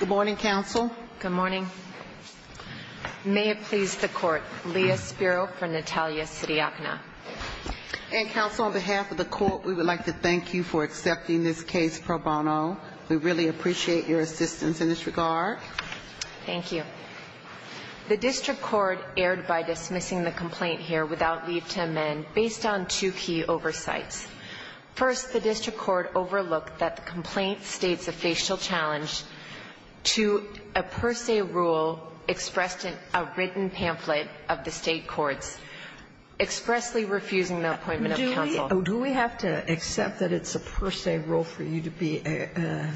Good morning, counsel. Good morning. May it please the Court, Leah Spiro for Natalia Sidiakina. And, counsel, on behalf of the Court we would like to thank you for accepting this case pro bono. We really appreciate your assistance in this regard. Thank you. The district court erred by dismissing the complaint here without leave to amend based on two key oversights. First, the district court overlooked that the complaint states a facial challenge to a per se rule expressed in a written pamphlet of the state courts expressly refusing the appointment of counsel. Do we have to accept that it's a per se rule for you to be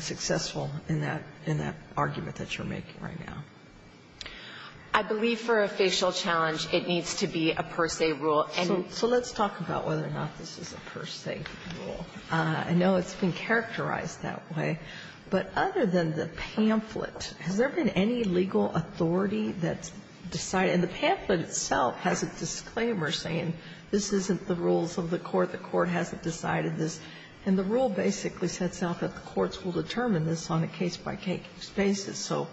successful in that argument that you're making right now? I believe for a facial challenge it needs to be a per se rule. So let's talk about whether or not this is a per se rule. I know it's been characterized that way, but other than the pamphlet, has there been any legal authority that decided the pamphlet itself has a disclaimer saying this isn't the rules of the court, the court hasn't decided this, and the rule basically sets out that the courts will determine this on a case-by-case basis. So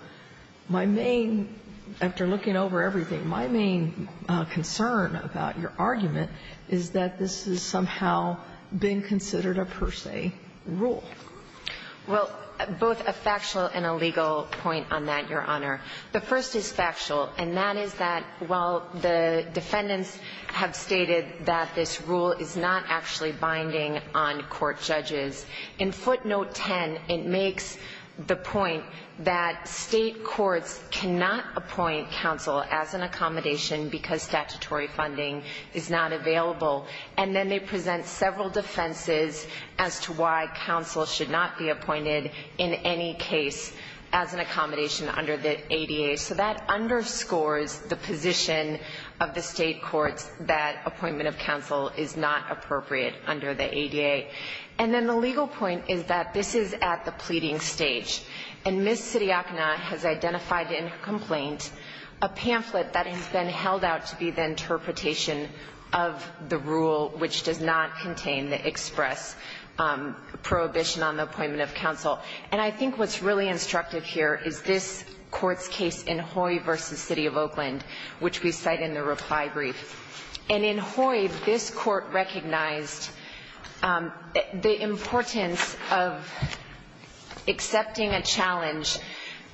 my main, after looking over everything, my main concern about your argument is that this has somehow been considered a per se rule. Well, both a factual and a legal point on that, Your Honor. The first is factual, and that is that while the defendants have stated that this rule is not actually binding on court judges, in footnote 10 it makes the point that state courts cannot appoint counsel as an accommodation because statutory funding is not available. And then they present several defenses as to why counsel should not be appointed in any case as an accommodation under the ADA. So that underscores the position of the state courts that appointment of counsel is not appropriate under the ADA. And then the legal point is that this is at the pleading stage. And Ms. Sidiakna has identified in her complaint a pamphlet that has been held out to be the interpretation of the rule which does not contain the express prohibition on the appointment of counsel. And I think what's really instructive here is this Court's case in Hoy v. City of Oakland, which we cite in the reply brief. And in Hoy, this Court recognized the importance of accepting a plaintiff's complaint challenge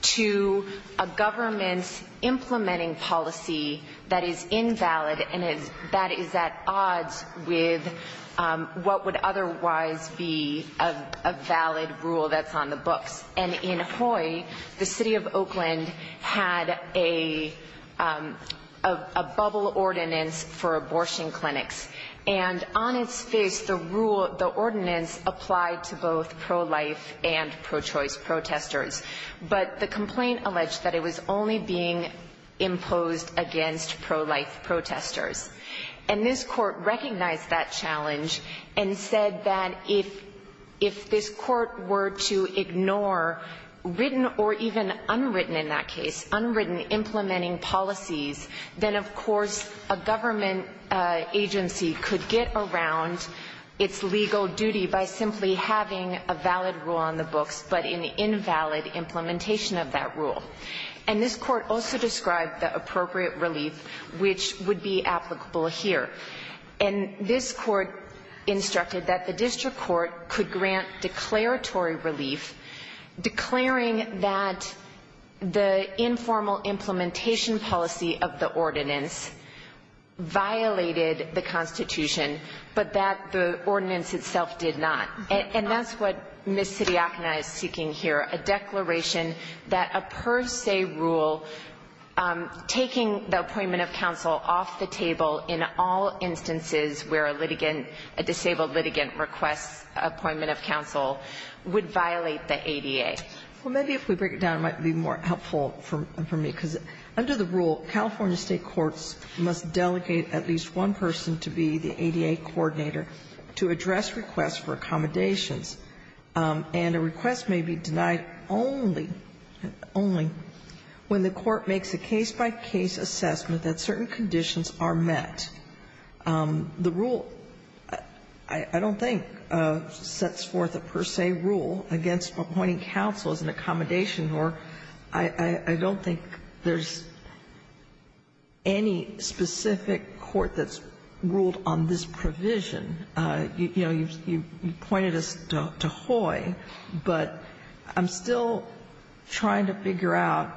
to a government's implementing policy that is invalid and that is at odds with what would otherwise be a valid rule that's on the books. And in Hoy, the City of Oakland had a bubble ordinance for abortion clinics. And on its face, the rule, the ordinance applied to both pro-life and pro-choice protesters. But the complaint alleged that it was only being imposed against pro-life protesters. And this Court recognized that challenge and said that if this Court were to ignore written or even unwritten in that case, unwritten implementing policies, then, of course, a government agency could get around its legal duty by simply having a valid rule on the books, but an invalid implementation of that rule. And this Court also described the appropriate relief which would be applicable here. And this Court instructed that the district court could grant declaratory relief, declaring that the informal implementation policy of the ordinance violated the Constitution, but that the ordinance itself did not. And that's what Ms. Sidiakna is seeking here, a declaration that a per se rule taking the appointment of counsel off the table in all instances where a litigant, a disabled litigant requests appointment of counsel would violate the ADA. Well, maybe if we break it down, it might be more helpful for me. Because under the rule, California state courts must delegate at least one person to be the ADA coordinator to address requests for accommodations. And a request may be denied only when the court makes a case-by-case assessment that certain conditions are met. The rule, I don't think, sets forth a per se rule against appointing counsel as an accommodation, or I don't think there's any specific court that's ruled on this provision. You know, you pointed us to Hoy, but I'm still trying to figure out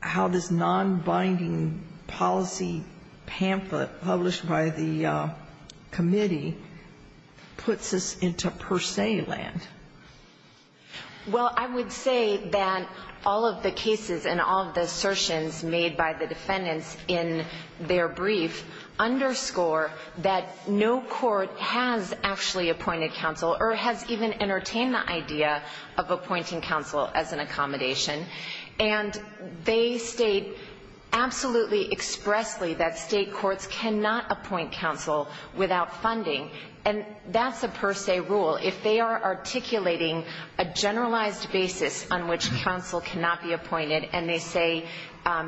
how this nonbinding policy pamphlet published by the committee puts us into per se land. Well, I would say that all of the cases and all of the assertions made by the defendants in their brief underscore that no court has actually appointed counsel or has even entertained the idea of appointing counsel as an accommodation. And they state absolutely expressly that state courts cannot appoint counsel without funding. And that's a per se rule. If they are articulating a generalized basis on which counsel cannot be appointed and they say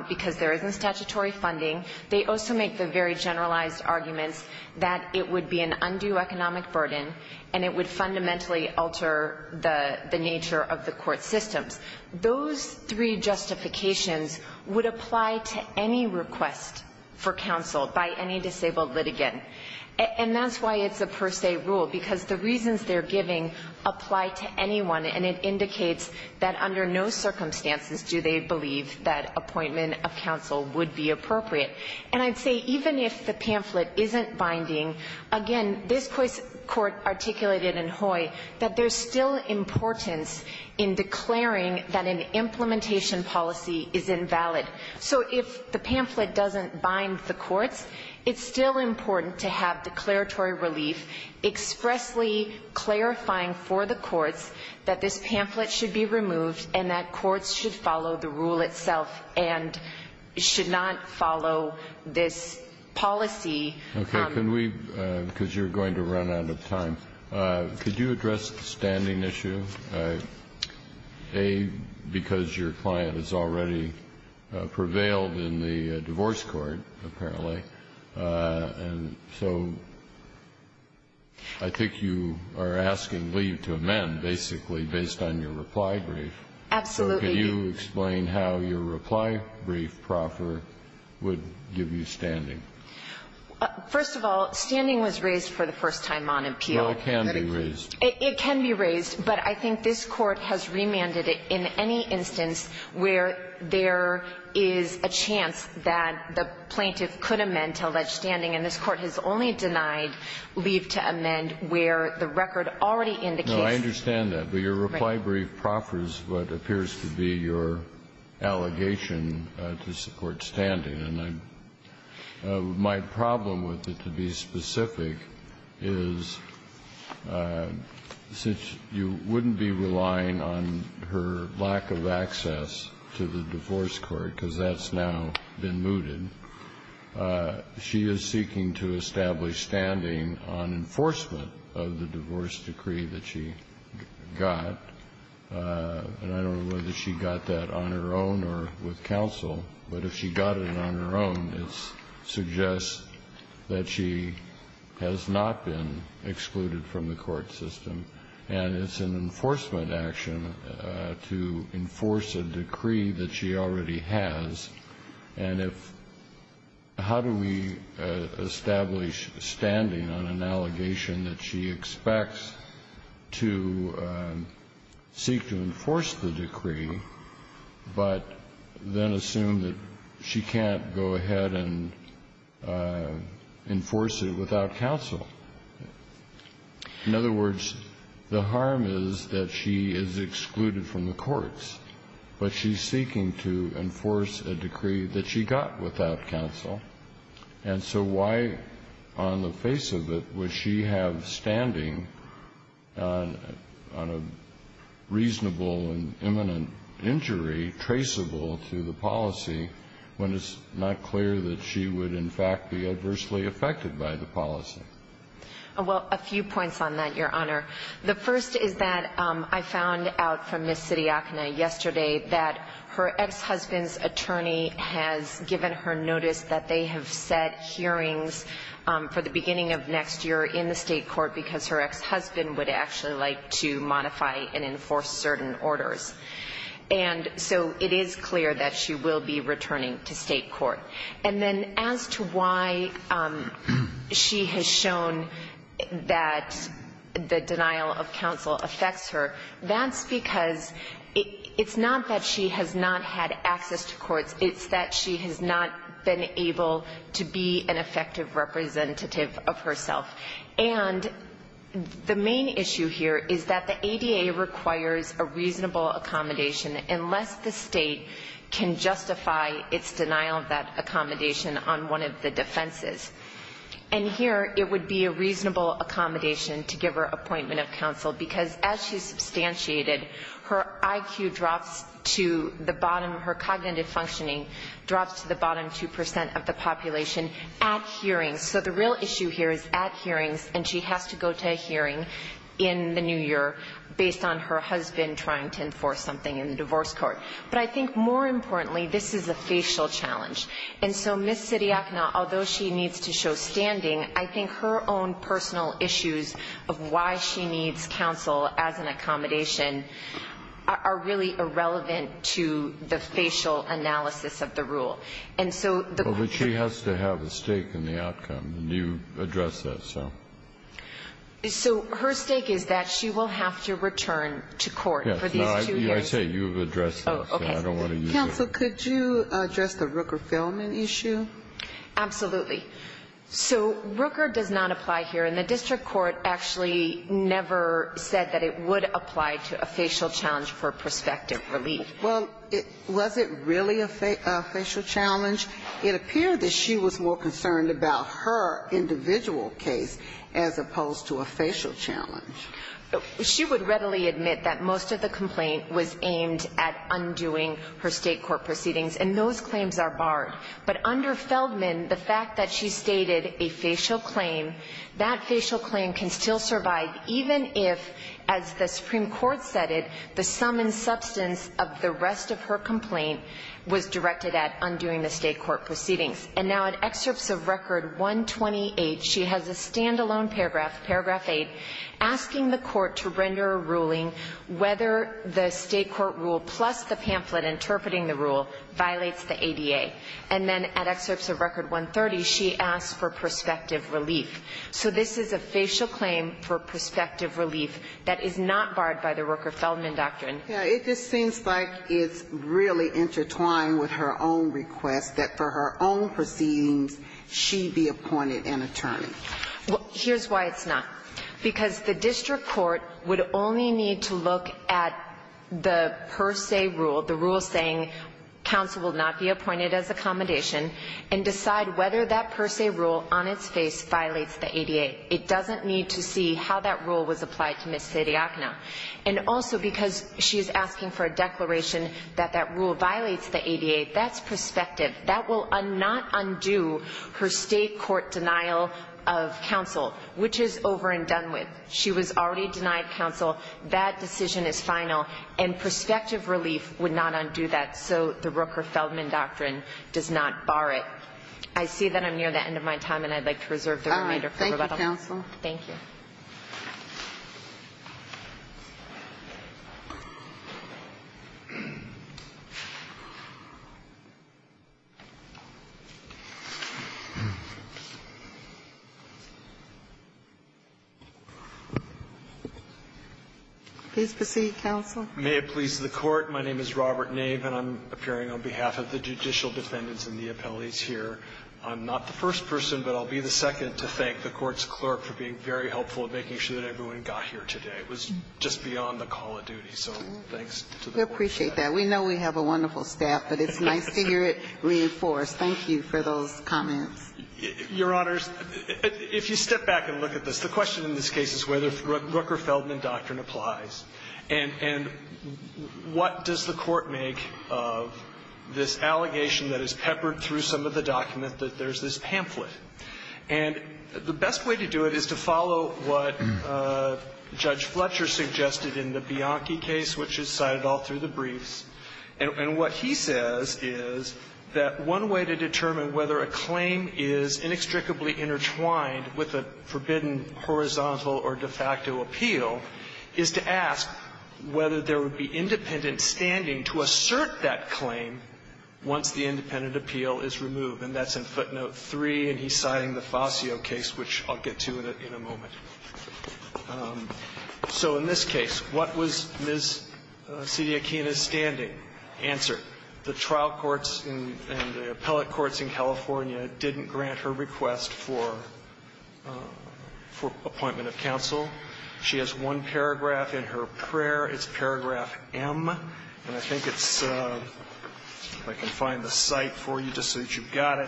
because there isn't statutory funding, they also make the very generalized arguments that it would be an undue economic burden and it would fundamentally alter the nature of the court systems. Those three justifications would apply to any request for counsel by any disabled litigant. And that's why it's a per se rule, because the reasons they're giving apply to anyone, and it indicates that under no circumstances do they believe that appointment of counsel would be appropriate. And I'd say even if the pamphlet isn't binding, again, this Court articulated in Hoy, that there's still importance in declaring that an implementation policy is invalid. So if the pamphlet doesn't bind the courts, it's still important to have declaratory relief expressly clarifying for the courts that this pamphlet should be removed and that courts should follow the rule itself and should not follow this policy. Kennedy. Kennedy. Okay. Can we, because you're going to run out of time, could you address the standing issue, A, because your client has already prevailed in the divorce court, apparently, and so I think you are asking leave to amend basically based on your reply brief. Absolutely. So can you explain how your reply brief proffer would give you standing? First of all, standing was raised for the first time on appeal. Well, it can be raised. It can be raised. But I think this Court has remanded it in any instance where there is a chance that the plaintiff could amend to allege standing, and this Court has only denied leave to amend where the record already indicates. No, I understand that. But your reply brief proffers what appears to be your allegation to support standing. My problem with it, to be specific, is since you wouldn't be relying on her lack of access to the divorce court, because that's now been mooted, she is seeking to establish standing on enforcement of the divorce decree that she got, and I don't know whether she got it on her own. It suggests that she has not been excluded from the court system, and it's an enforcement action to enforce a decree that she already has. And if how do we establish standing on an allegation that she expects to seek to enforce the decree, but then assume that she can't go ahead and enforce it without counsel? In other words, the harm is that she is excluded from the courts, but she's seeking to enforce a decree that she got without counsel. And so why, on the face of it, would she have standing on a reasonable and imminent injury traceable to the policy when it's not clear that she would in fact be adversely affected by the policy? Well, a few points on that, Your Honor. The first is that I found out from Ms. Sidiakna yesterday that her ex-husband's attorney has given her notice that they have set hearings for the beginning of next year in the state court because her ex-husband would actually like to modify and enforce certain orders. And so it is clear that she will be returning to state court. And then as to why she has shown that the denial of counsel affects her, that's because it's not that she has not had access to courts. It's that she has not been able to be an effective representative of herself. And the main issue here is that the ADA requires a reasonable accommodation unless the State can justify its denial of that accommodation on one of the defenses. And here it would be a reasonable accommodation to give her appointment of counsel because as she's substantiated, her IQ drops to the bottom, her cognitive functioning drops to the bottom 2% of the population at hearings. So the real issue here is at hearings, and she has to go to a hearing in the new year based on her husband trying to enforce something in the divorce court. But I think more importantly, this is a facial challenge. And so Ms. Sidiakna, although she needs to show standing, I think her own personal issues of why she needs counsel as an accommodation are really irrelevant to the facial analysis of the rule. But she has to have a stake in the outcome, and you addressed that. So her stake is that she will have to return to court for these two years. I say you've addressed that, so I don't want to use that. Counsel, could you address the Rooker-Feldman issue? Absolutely. So Rooker does not apply here, and the district court actually never said that it would apply to a facial challenge for prospective relief. Well, was it really a facial challenge? It appeared that she was more concerned about her individual case as opposed to a facial challenge. She would readily admit that most of the complaint was aimed at undoing her State Court proceedings, and those claims are barred. But under Feldman, the fact that she stated a facial claim, that facial claim can still survive even if, as the Supreme Court said it, the sum and substance of the rest of her complaint was directed at undoing the State Court proceedings. And now at Excerpts of Record 128, she has a standalone paragraph, paragraph 8, asking the court to render a ruling whether the State Court rule plus the pamphlet interpreting the rule violates the ADA. And then at Excerpts of Record 130, she asks for prospective relief. So this is a facial claim for prospective relief that is not barred by the Rooker-Feldman doctrine. Now, it just seems like it's really intertwined with her own request that for her own proceedings, she be appointed an attorney. Well, here's why it's not. Because the district court would only need to look at the per se rule, the rule saying counsel will not be appointed as accommodation, and decide whether that per se rule on its face violates the ADA. It doesn't need to see how that rule was applied to Ms. Sidiakna. And also because she's asking for a declaration that that rule violates the ADA, that's prospective. That will not undo her State court denial of counsel, which is over and done with. She was already denied counsel. That decision is final. And prospective relief would not undo that, so the Rooker-Feldman doctrine does not bar it. I see that I'm near the end of my time, and I'd like to reserve the remainder for rebuttal. Thank you, counsel. Thank you. Please proceed, counsel. May it please the Court. My name is Robert Nave, and I'm appearing on behalf of the judicial defendants and the appellees here. I'm not the first person, but I'll be the second, to thank the Court's clerk for being very helpful in making sure that everyone got here today. It was just beyond the call of duty, so thanks to the Court's clerk. We appreciate that. We know we have a wonderful staff, but it's nice to hear it reinforced. Thank you for those comments. Your Honors, if you step back and look at this, the question in this case is whether the Rooker-Feldman doctrine applies, and what does the Court make of this allegation that is peppered through some of the document that there's this pamphlet? And the best way to do it is to follow what Judge Fletcher suggested in the Bianchi case, which is cited all through the briefs. And what he says is that one way to determine whether a claim is inextricably intertwined with a forbidden horizontal or de facto appeal is to ask whether there would be independent standing to assert that claim once the independent appeal is removed, and that's in footnote 3, and he's citing the Fascio case, which I'll get to in a moment. So in this case, what was Ms. Sidiaquina's standing answered? The trial courts and the appellate courts in California didn't grant her request for appointment of counsel. She has one paragraph in her prayer. It's paragraph M, and I think it's – if I can find the cite for you just so that you've got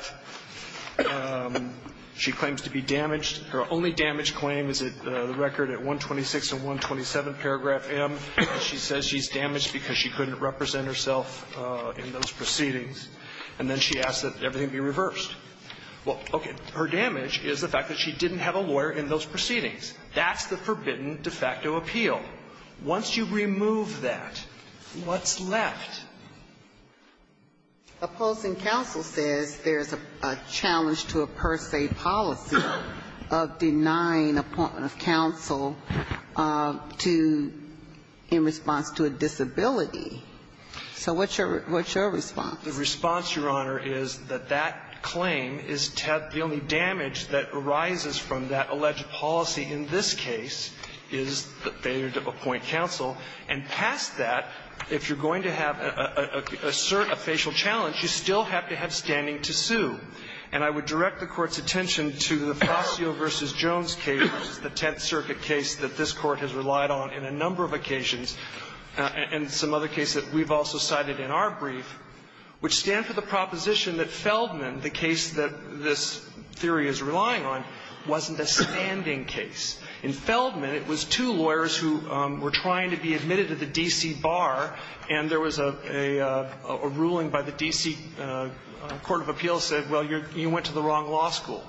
it. She claims to be damaged. Her only damage claim is the record at 126 and 127, paragraph M. She says she's damaged because she couldn't represent herself in those proceedings. And then she asks that everything be reversed. Well, okay. Her damage is the fact that she didn't have a lawyer in those proceedings. That's the forbidden de facto appeal. Once you remove that, what's left? Opposing counsel says there's a challenge to a per se policy of denying appointment of counsel to – in response to a disability. So what's your – what's your response? The response, Your Honor, is that that claim is the only damage that arises from that alleged policy in this case is that they need to appoint counsel. And past that, if you're going to have a facial challenge, you still have to have standing to sue. And I would direct the Court's attention to the Fascio v. Jones case, the Tenth Circuit case that this Court has relied on in a number of occasions, and some other cases that we've also cited in our brief, which stand for the proposition that Feldman, the case that this theory is relying on, wasn't a standing case. In Feldman, it was two lawyers who were trying to be admitted to the D.C. Bar, and there was a ruling by the D.C. Court of Appeals that said, well, you went to the wrong law school.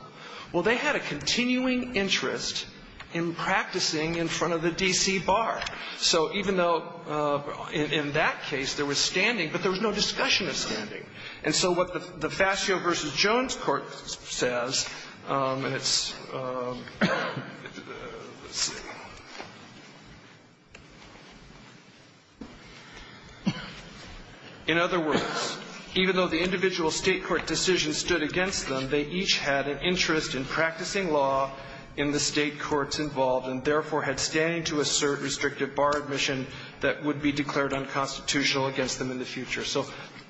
Well, they had a continuing interest in practicing in front of the D.C. Bar. So even though in that case there was standing, but there was no discussion of standing. And so what the Fascio v. Jones Court says, and it's – let's see. In other words, even though the individual State court decision stood against them, they each had an interest in practicing law in the State courts involved and therefore had standing to assert restrictive bar admission that would be declared unconstitutional against them in the future. So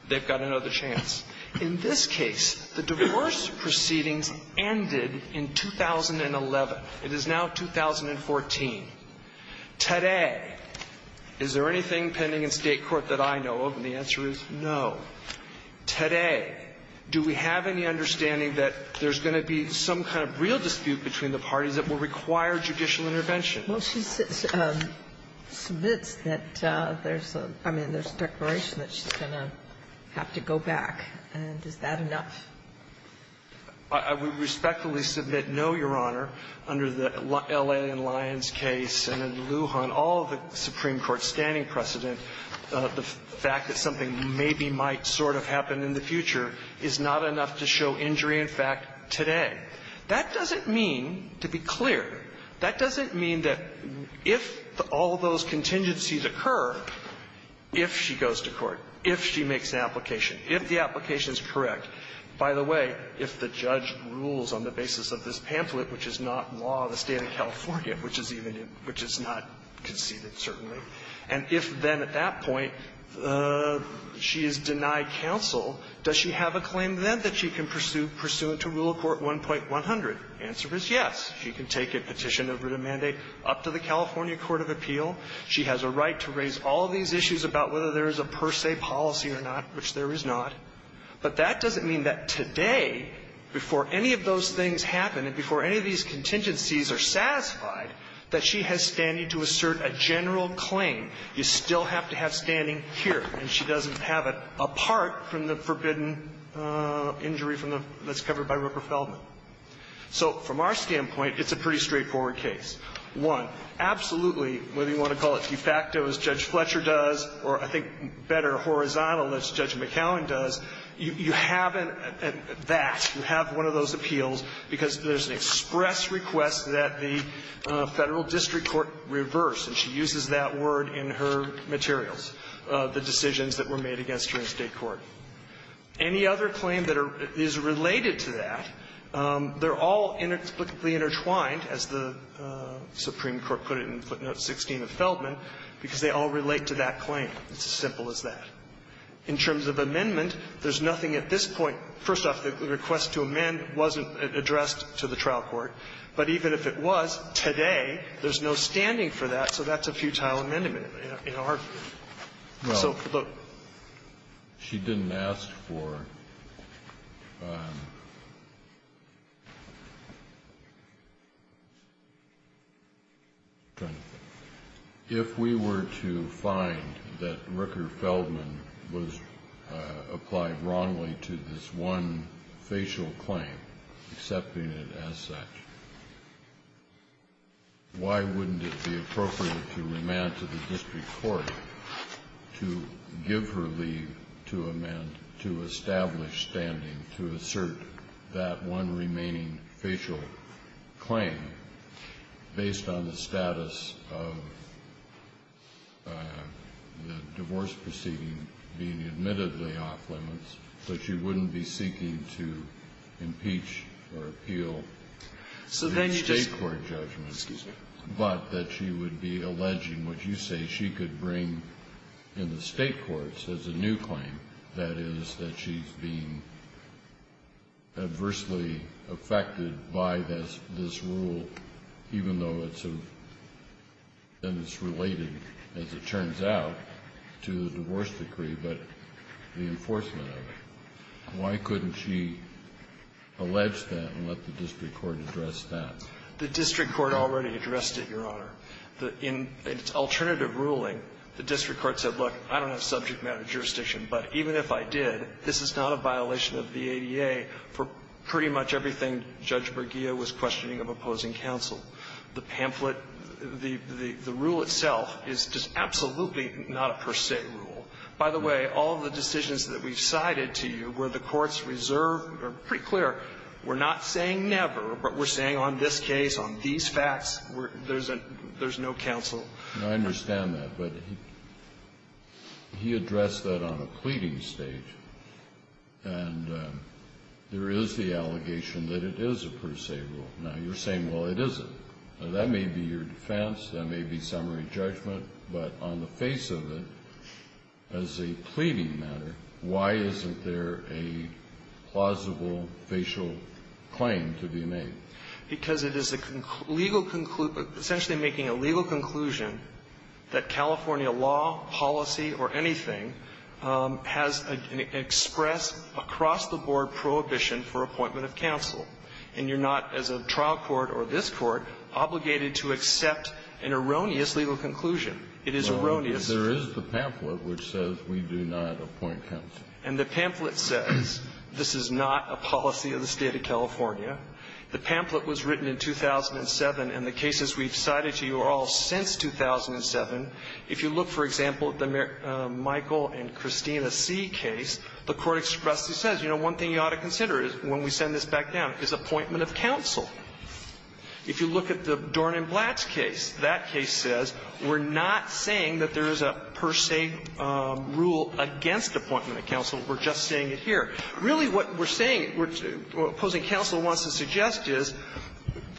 they've got another chance. In this case, the divorce proceedings ended in 2011. It is now 2014. Today, is there anything pending in State court that I know of? And the answer is no. Today, do we have any understanding that there's going to be some kind of real dispute between the parties that will require judicial intervention? Well, she submits that there's a – I mean, there's a declaration that she's going to have to go back. And is that enough? I would respectfully submit no, Your Honor. Under the L.A. and Lyons case and in Lujan, all of the Supreme Court standing precedent, the fact that something maybe might sort of happen in the future is not enough to show injury in fact today. That doesn't mean, to be clear, that doesn't mean that if all of those contingencies occur, if she goes to court, if she makes an application, if the application is correct, by the way, if the judge rules on the basis of this pamphlet, which is not law of the State of California, which is even in – which is not conceded, certainly, and if then at that point she is denied counsel, does she have a claim then that she can pursue pursuant to Rule of Court 1.100? The answer is yes. She can take a petition of written mandate up to the California court of appeal. She has a right to raise all of these issues about whether there is a per se policy or not, which there is not. But that doesn't mean that today, before any of those things happen and before any of these contingencies are satisfied, that she has standing to assert a general claim. You still have to have standing here. And she doesn't have it apart from the forbidden injury from the – that's covered by Rupert Feldman. So from our standpoint, it's a pretty straightforward case. One, absolutely, whether you want to call it de facto, as Judge Fletcher does, or I think better, horizontal, as Judge McAllen does, you haven't that. You have one of those appeals because there's an express request that the Federal Supreme Court put it in footnote 16 of Feldman, because they all relate to that claim. It's as simple as that. In terms of amendment, there's nothing at this point. First off, the request to amend wasn't addressed to the trial court. But even if it was, today, there's no standing for that. So that's a futile investigation. So, look. Kennedy. She didn't ask for – if we were to find that Rupert Feldman was applied wrongly to this one facial claim, accepting it as such, why wouldn't it be appropriate for her to remand to the district court to give her leave to amend, to establish standing, to assert that one remaining facial claim based on the status of the divorce proceeding being admittedly off-limits, that she wouldn't be seeking to impeach or appeal the state court judgment, but that she would be alleging what you say she could bring in the state courts as a new claim, that is, that she's being adversely affected by this rule, even though it's a – and it's related, as it turns out, to the divorce decree, but the enforcement of it. Why couldn't she allege that and let the district court address that? The district court already addressed it, Your Honor. In its alternative ruling, the district court said, look, I don't have subject matter jurisdiction, but even if I did, this is not a violation of the ADA for pretty much everything Judge Bergia was questioning of opposing counsel. The pamphlet – the rule itself is just absolutely not a per se rule. By the way, all of the decisions that we've cited to you where the courts reserve are pretty clear, we're not saying never, but we're saying on this case, on these facts, there's a – there's no counsel. Now, I understand that, but he addressed that on a pleading stage, and there is the allegation that it is a per se rule. Now, you're saying, well, it isn't. That may be your defense, that may be summary judgment, but on the face of it, as a pleading matter, why isn't there a plausible facial claim to be made? Because it is a legal – essentially making a legal conclusion that California law, policy, or anything has an express, across-the-board prohibition for appointment of counsel. And you're not, as a trial court or this Court, obligated to accept an erroneous legal conclusion. It is erroneous. Kennedy. There is the pamphlet which says we do not appoint counsel. And the pamphlet says this is not a policy of the State of California. The pamphlet was written in 2007, and the cases we've cited to you are all since 2007. If you look, for example, at the Michael and Christina C. case, the Court expressly says, you know, one thing you ought to consider is, when we send this back down, is appointment of counsel. If you look at the Dorn and Blatt's case, that case says we're not saying that there is a per se rule against appointment of counsel, we're just saying it here. Really, what we're saying, what opposing counsel wants to suggest is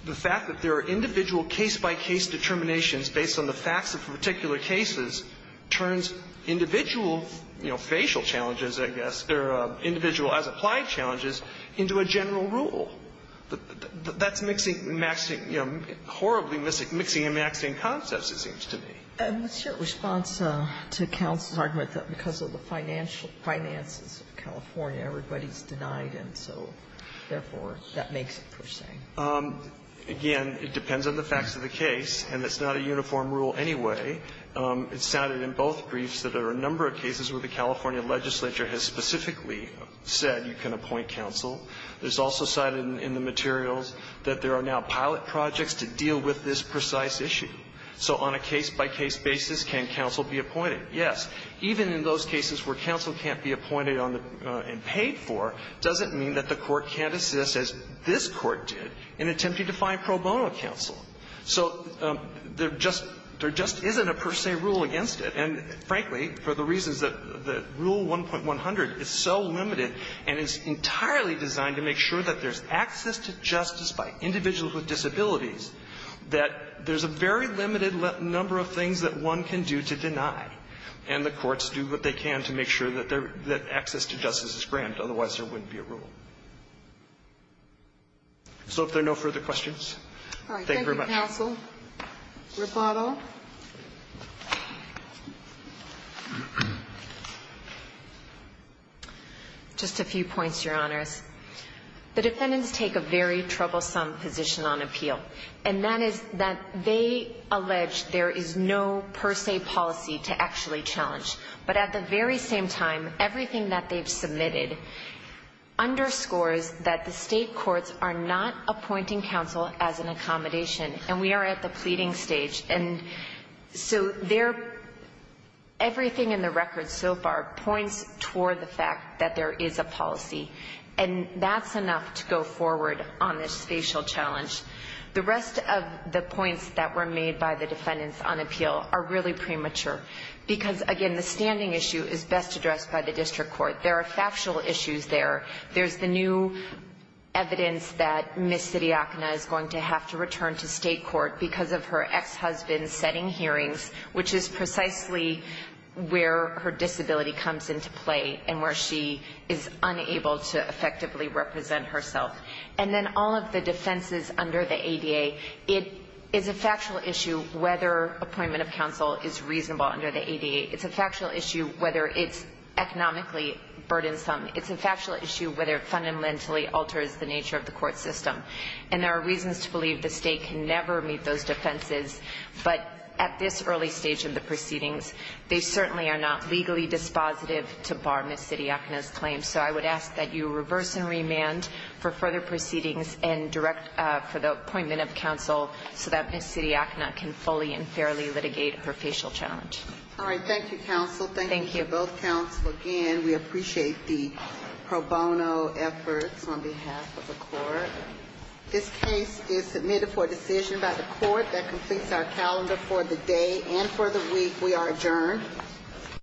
the fact that there are individual case-by-case determinations based on the facts of particular cases turns individual, you know, facial challenges, I guess, or individual as-applied challenges into a general rule. That's mixing, you know, horribly mixing and maxing concepts, it seems to me. And it's your response to counsel's argument that because of the finances of California, everybody's denied, and so, therefore, that makes it per se. Again, it depends on the facts of the case, and it's not a uniform rule anyway. It's cited in both briefs that there are a number of cases where the California legislature has specifically said you can appoint counsel. It's also cited in the materials that there are now pilot projects to deal with this precise issue. So on a case-by-case basis, can counsel be appointed? Yes. Even in those cases where counsel can't be appointed on the and paid for doesn't mean that the Court can't assist, as this Court did, in attempting to find pro bono counsel. So there just isn't a per se rule against it. And, frankly, for the reasons that Rule 1.100 is so limited, and it's entirely designed to make sure that there's access to justice by individuals with disabilities, that there's a very limited number of things that one can do to deny. And the courts do what they can to make sure that access to justice is granted, otherwise there wouldn't be a rule. So if there are no further questions, thank you very much. Is there a counsel rebuttal? Just a few points, Your Honors. The defendants take a very troublesome position on appeal, and that is that they allege there is no per se policy to actually challenge. But at the very same time, everything that they've submitted underscores that the state courts are not appointing counsel as an accommodation, and we are at the pleading stage. And so everything in the record so far points toward the fact that there is a policy. And that's enough to go forward on this facial challenge. The rest of the points that were made by the defendants on appeal are really premature, because, again, the standing issue is best addressed by the district court. There are factual issues there. There's the new evidence that Ms. Siddiakina is going to have to return to state court because of her ex-husband setting hearings, which is precisely where her disability comes into play and where she is unable to effectively represent herself. And then all of the defenses under the ADA, it is a factual issue whether appointment of counsel is reasonable under the ADA. It's a factual issue whether it's economically burdensome. It's a factual issue whether it fundamentally alters the nature of the court system. And there are reasons to believe the state can never meet those defenses. But at this early stage of the proceedings, they certainly are not legally dispositive to bar Ms. Siddiakina's claim. So I would ask that you reverse and remand for further proceedings and direct for the appointment of counsel so that Ms. Siddiakina can fully and fairly litigate her facial challenge. All right. Thank you, counsel. Thank you to both counsel. Again, we appreciate the pro bono efforts on behalf of the court. This case is submitted for decision by the court. That completes our calendar for the day and for the week. We are adjourned.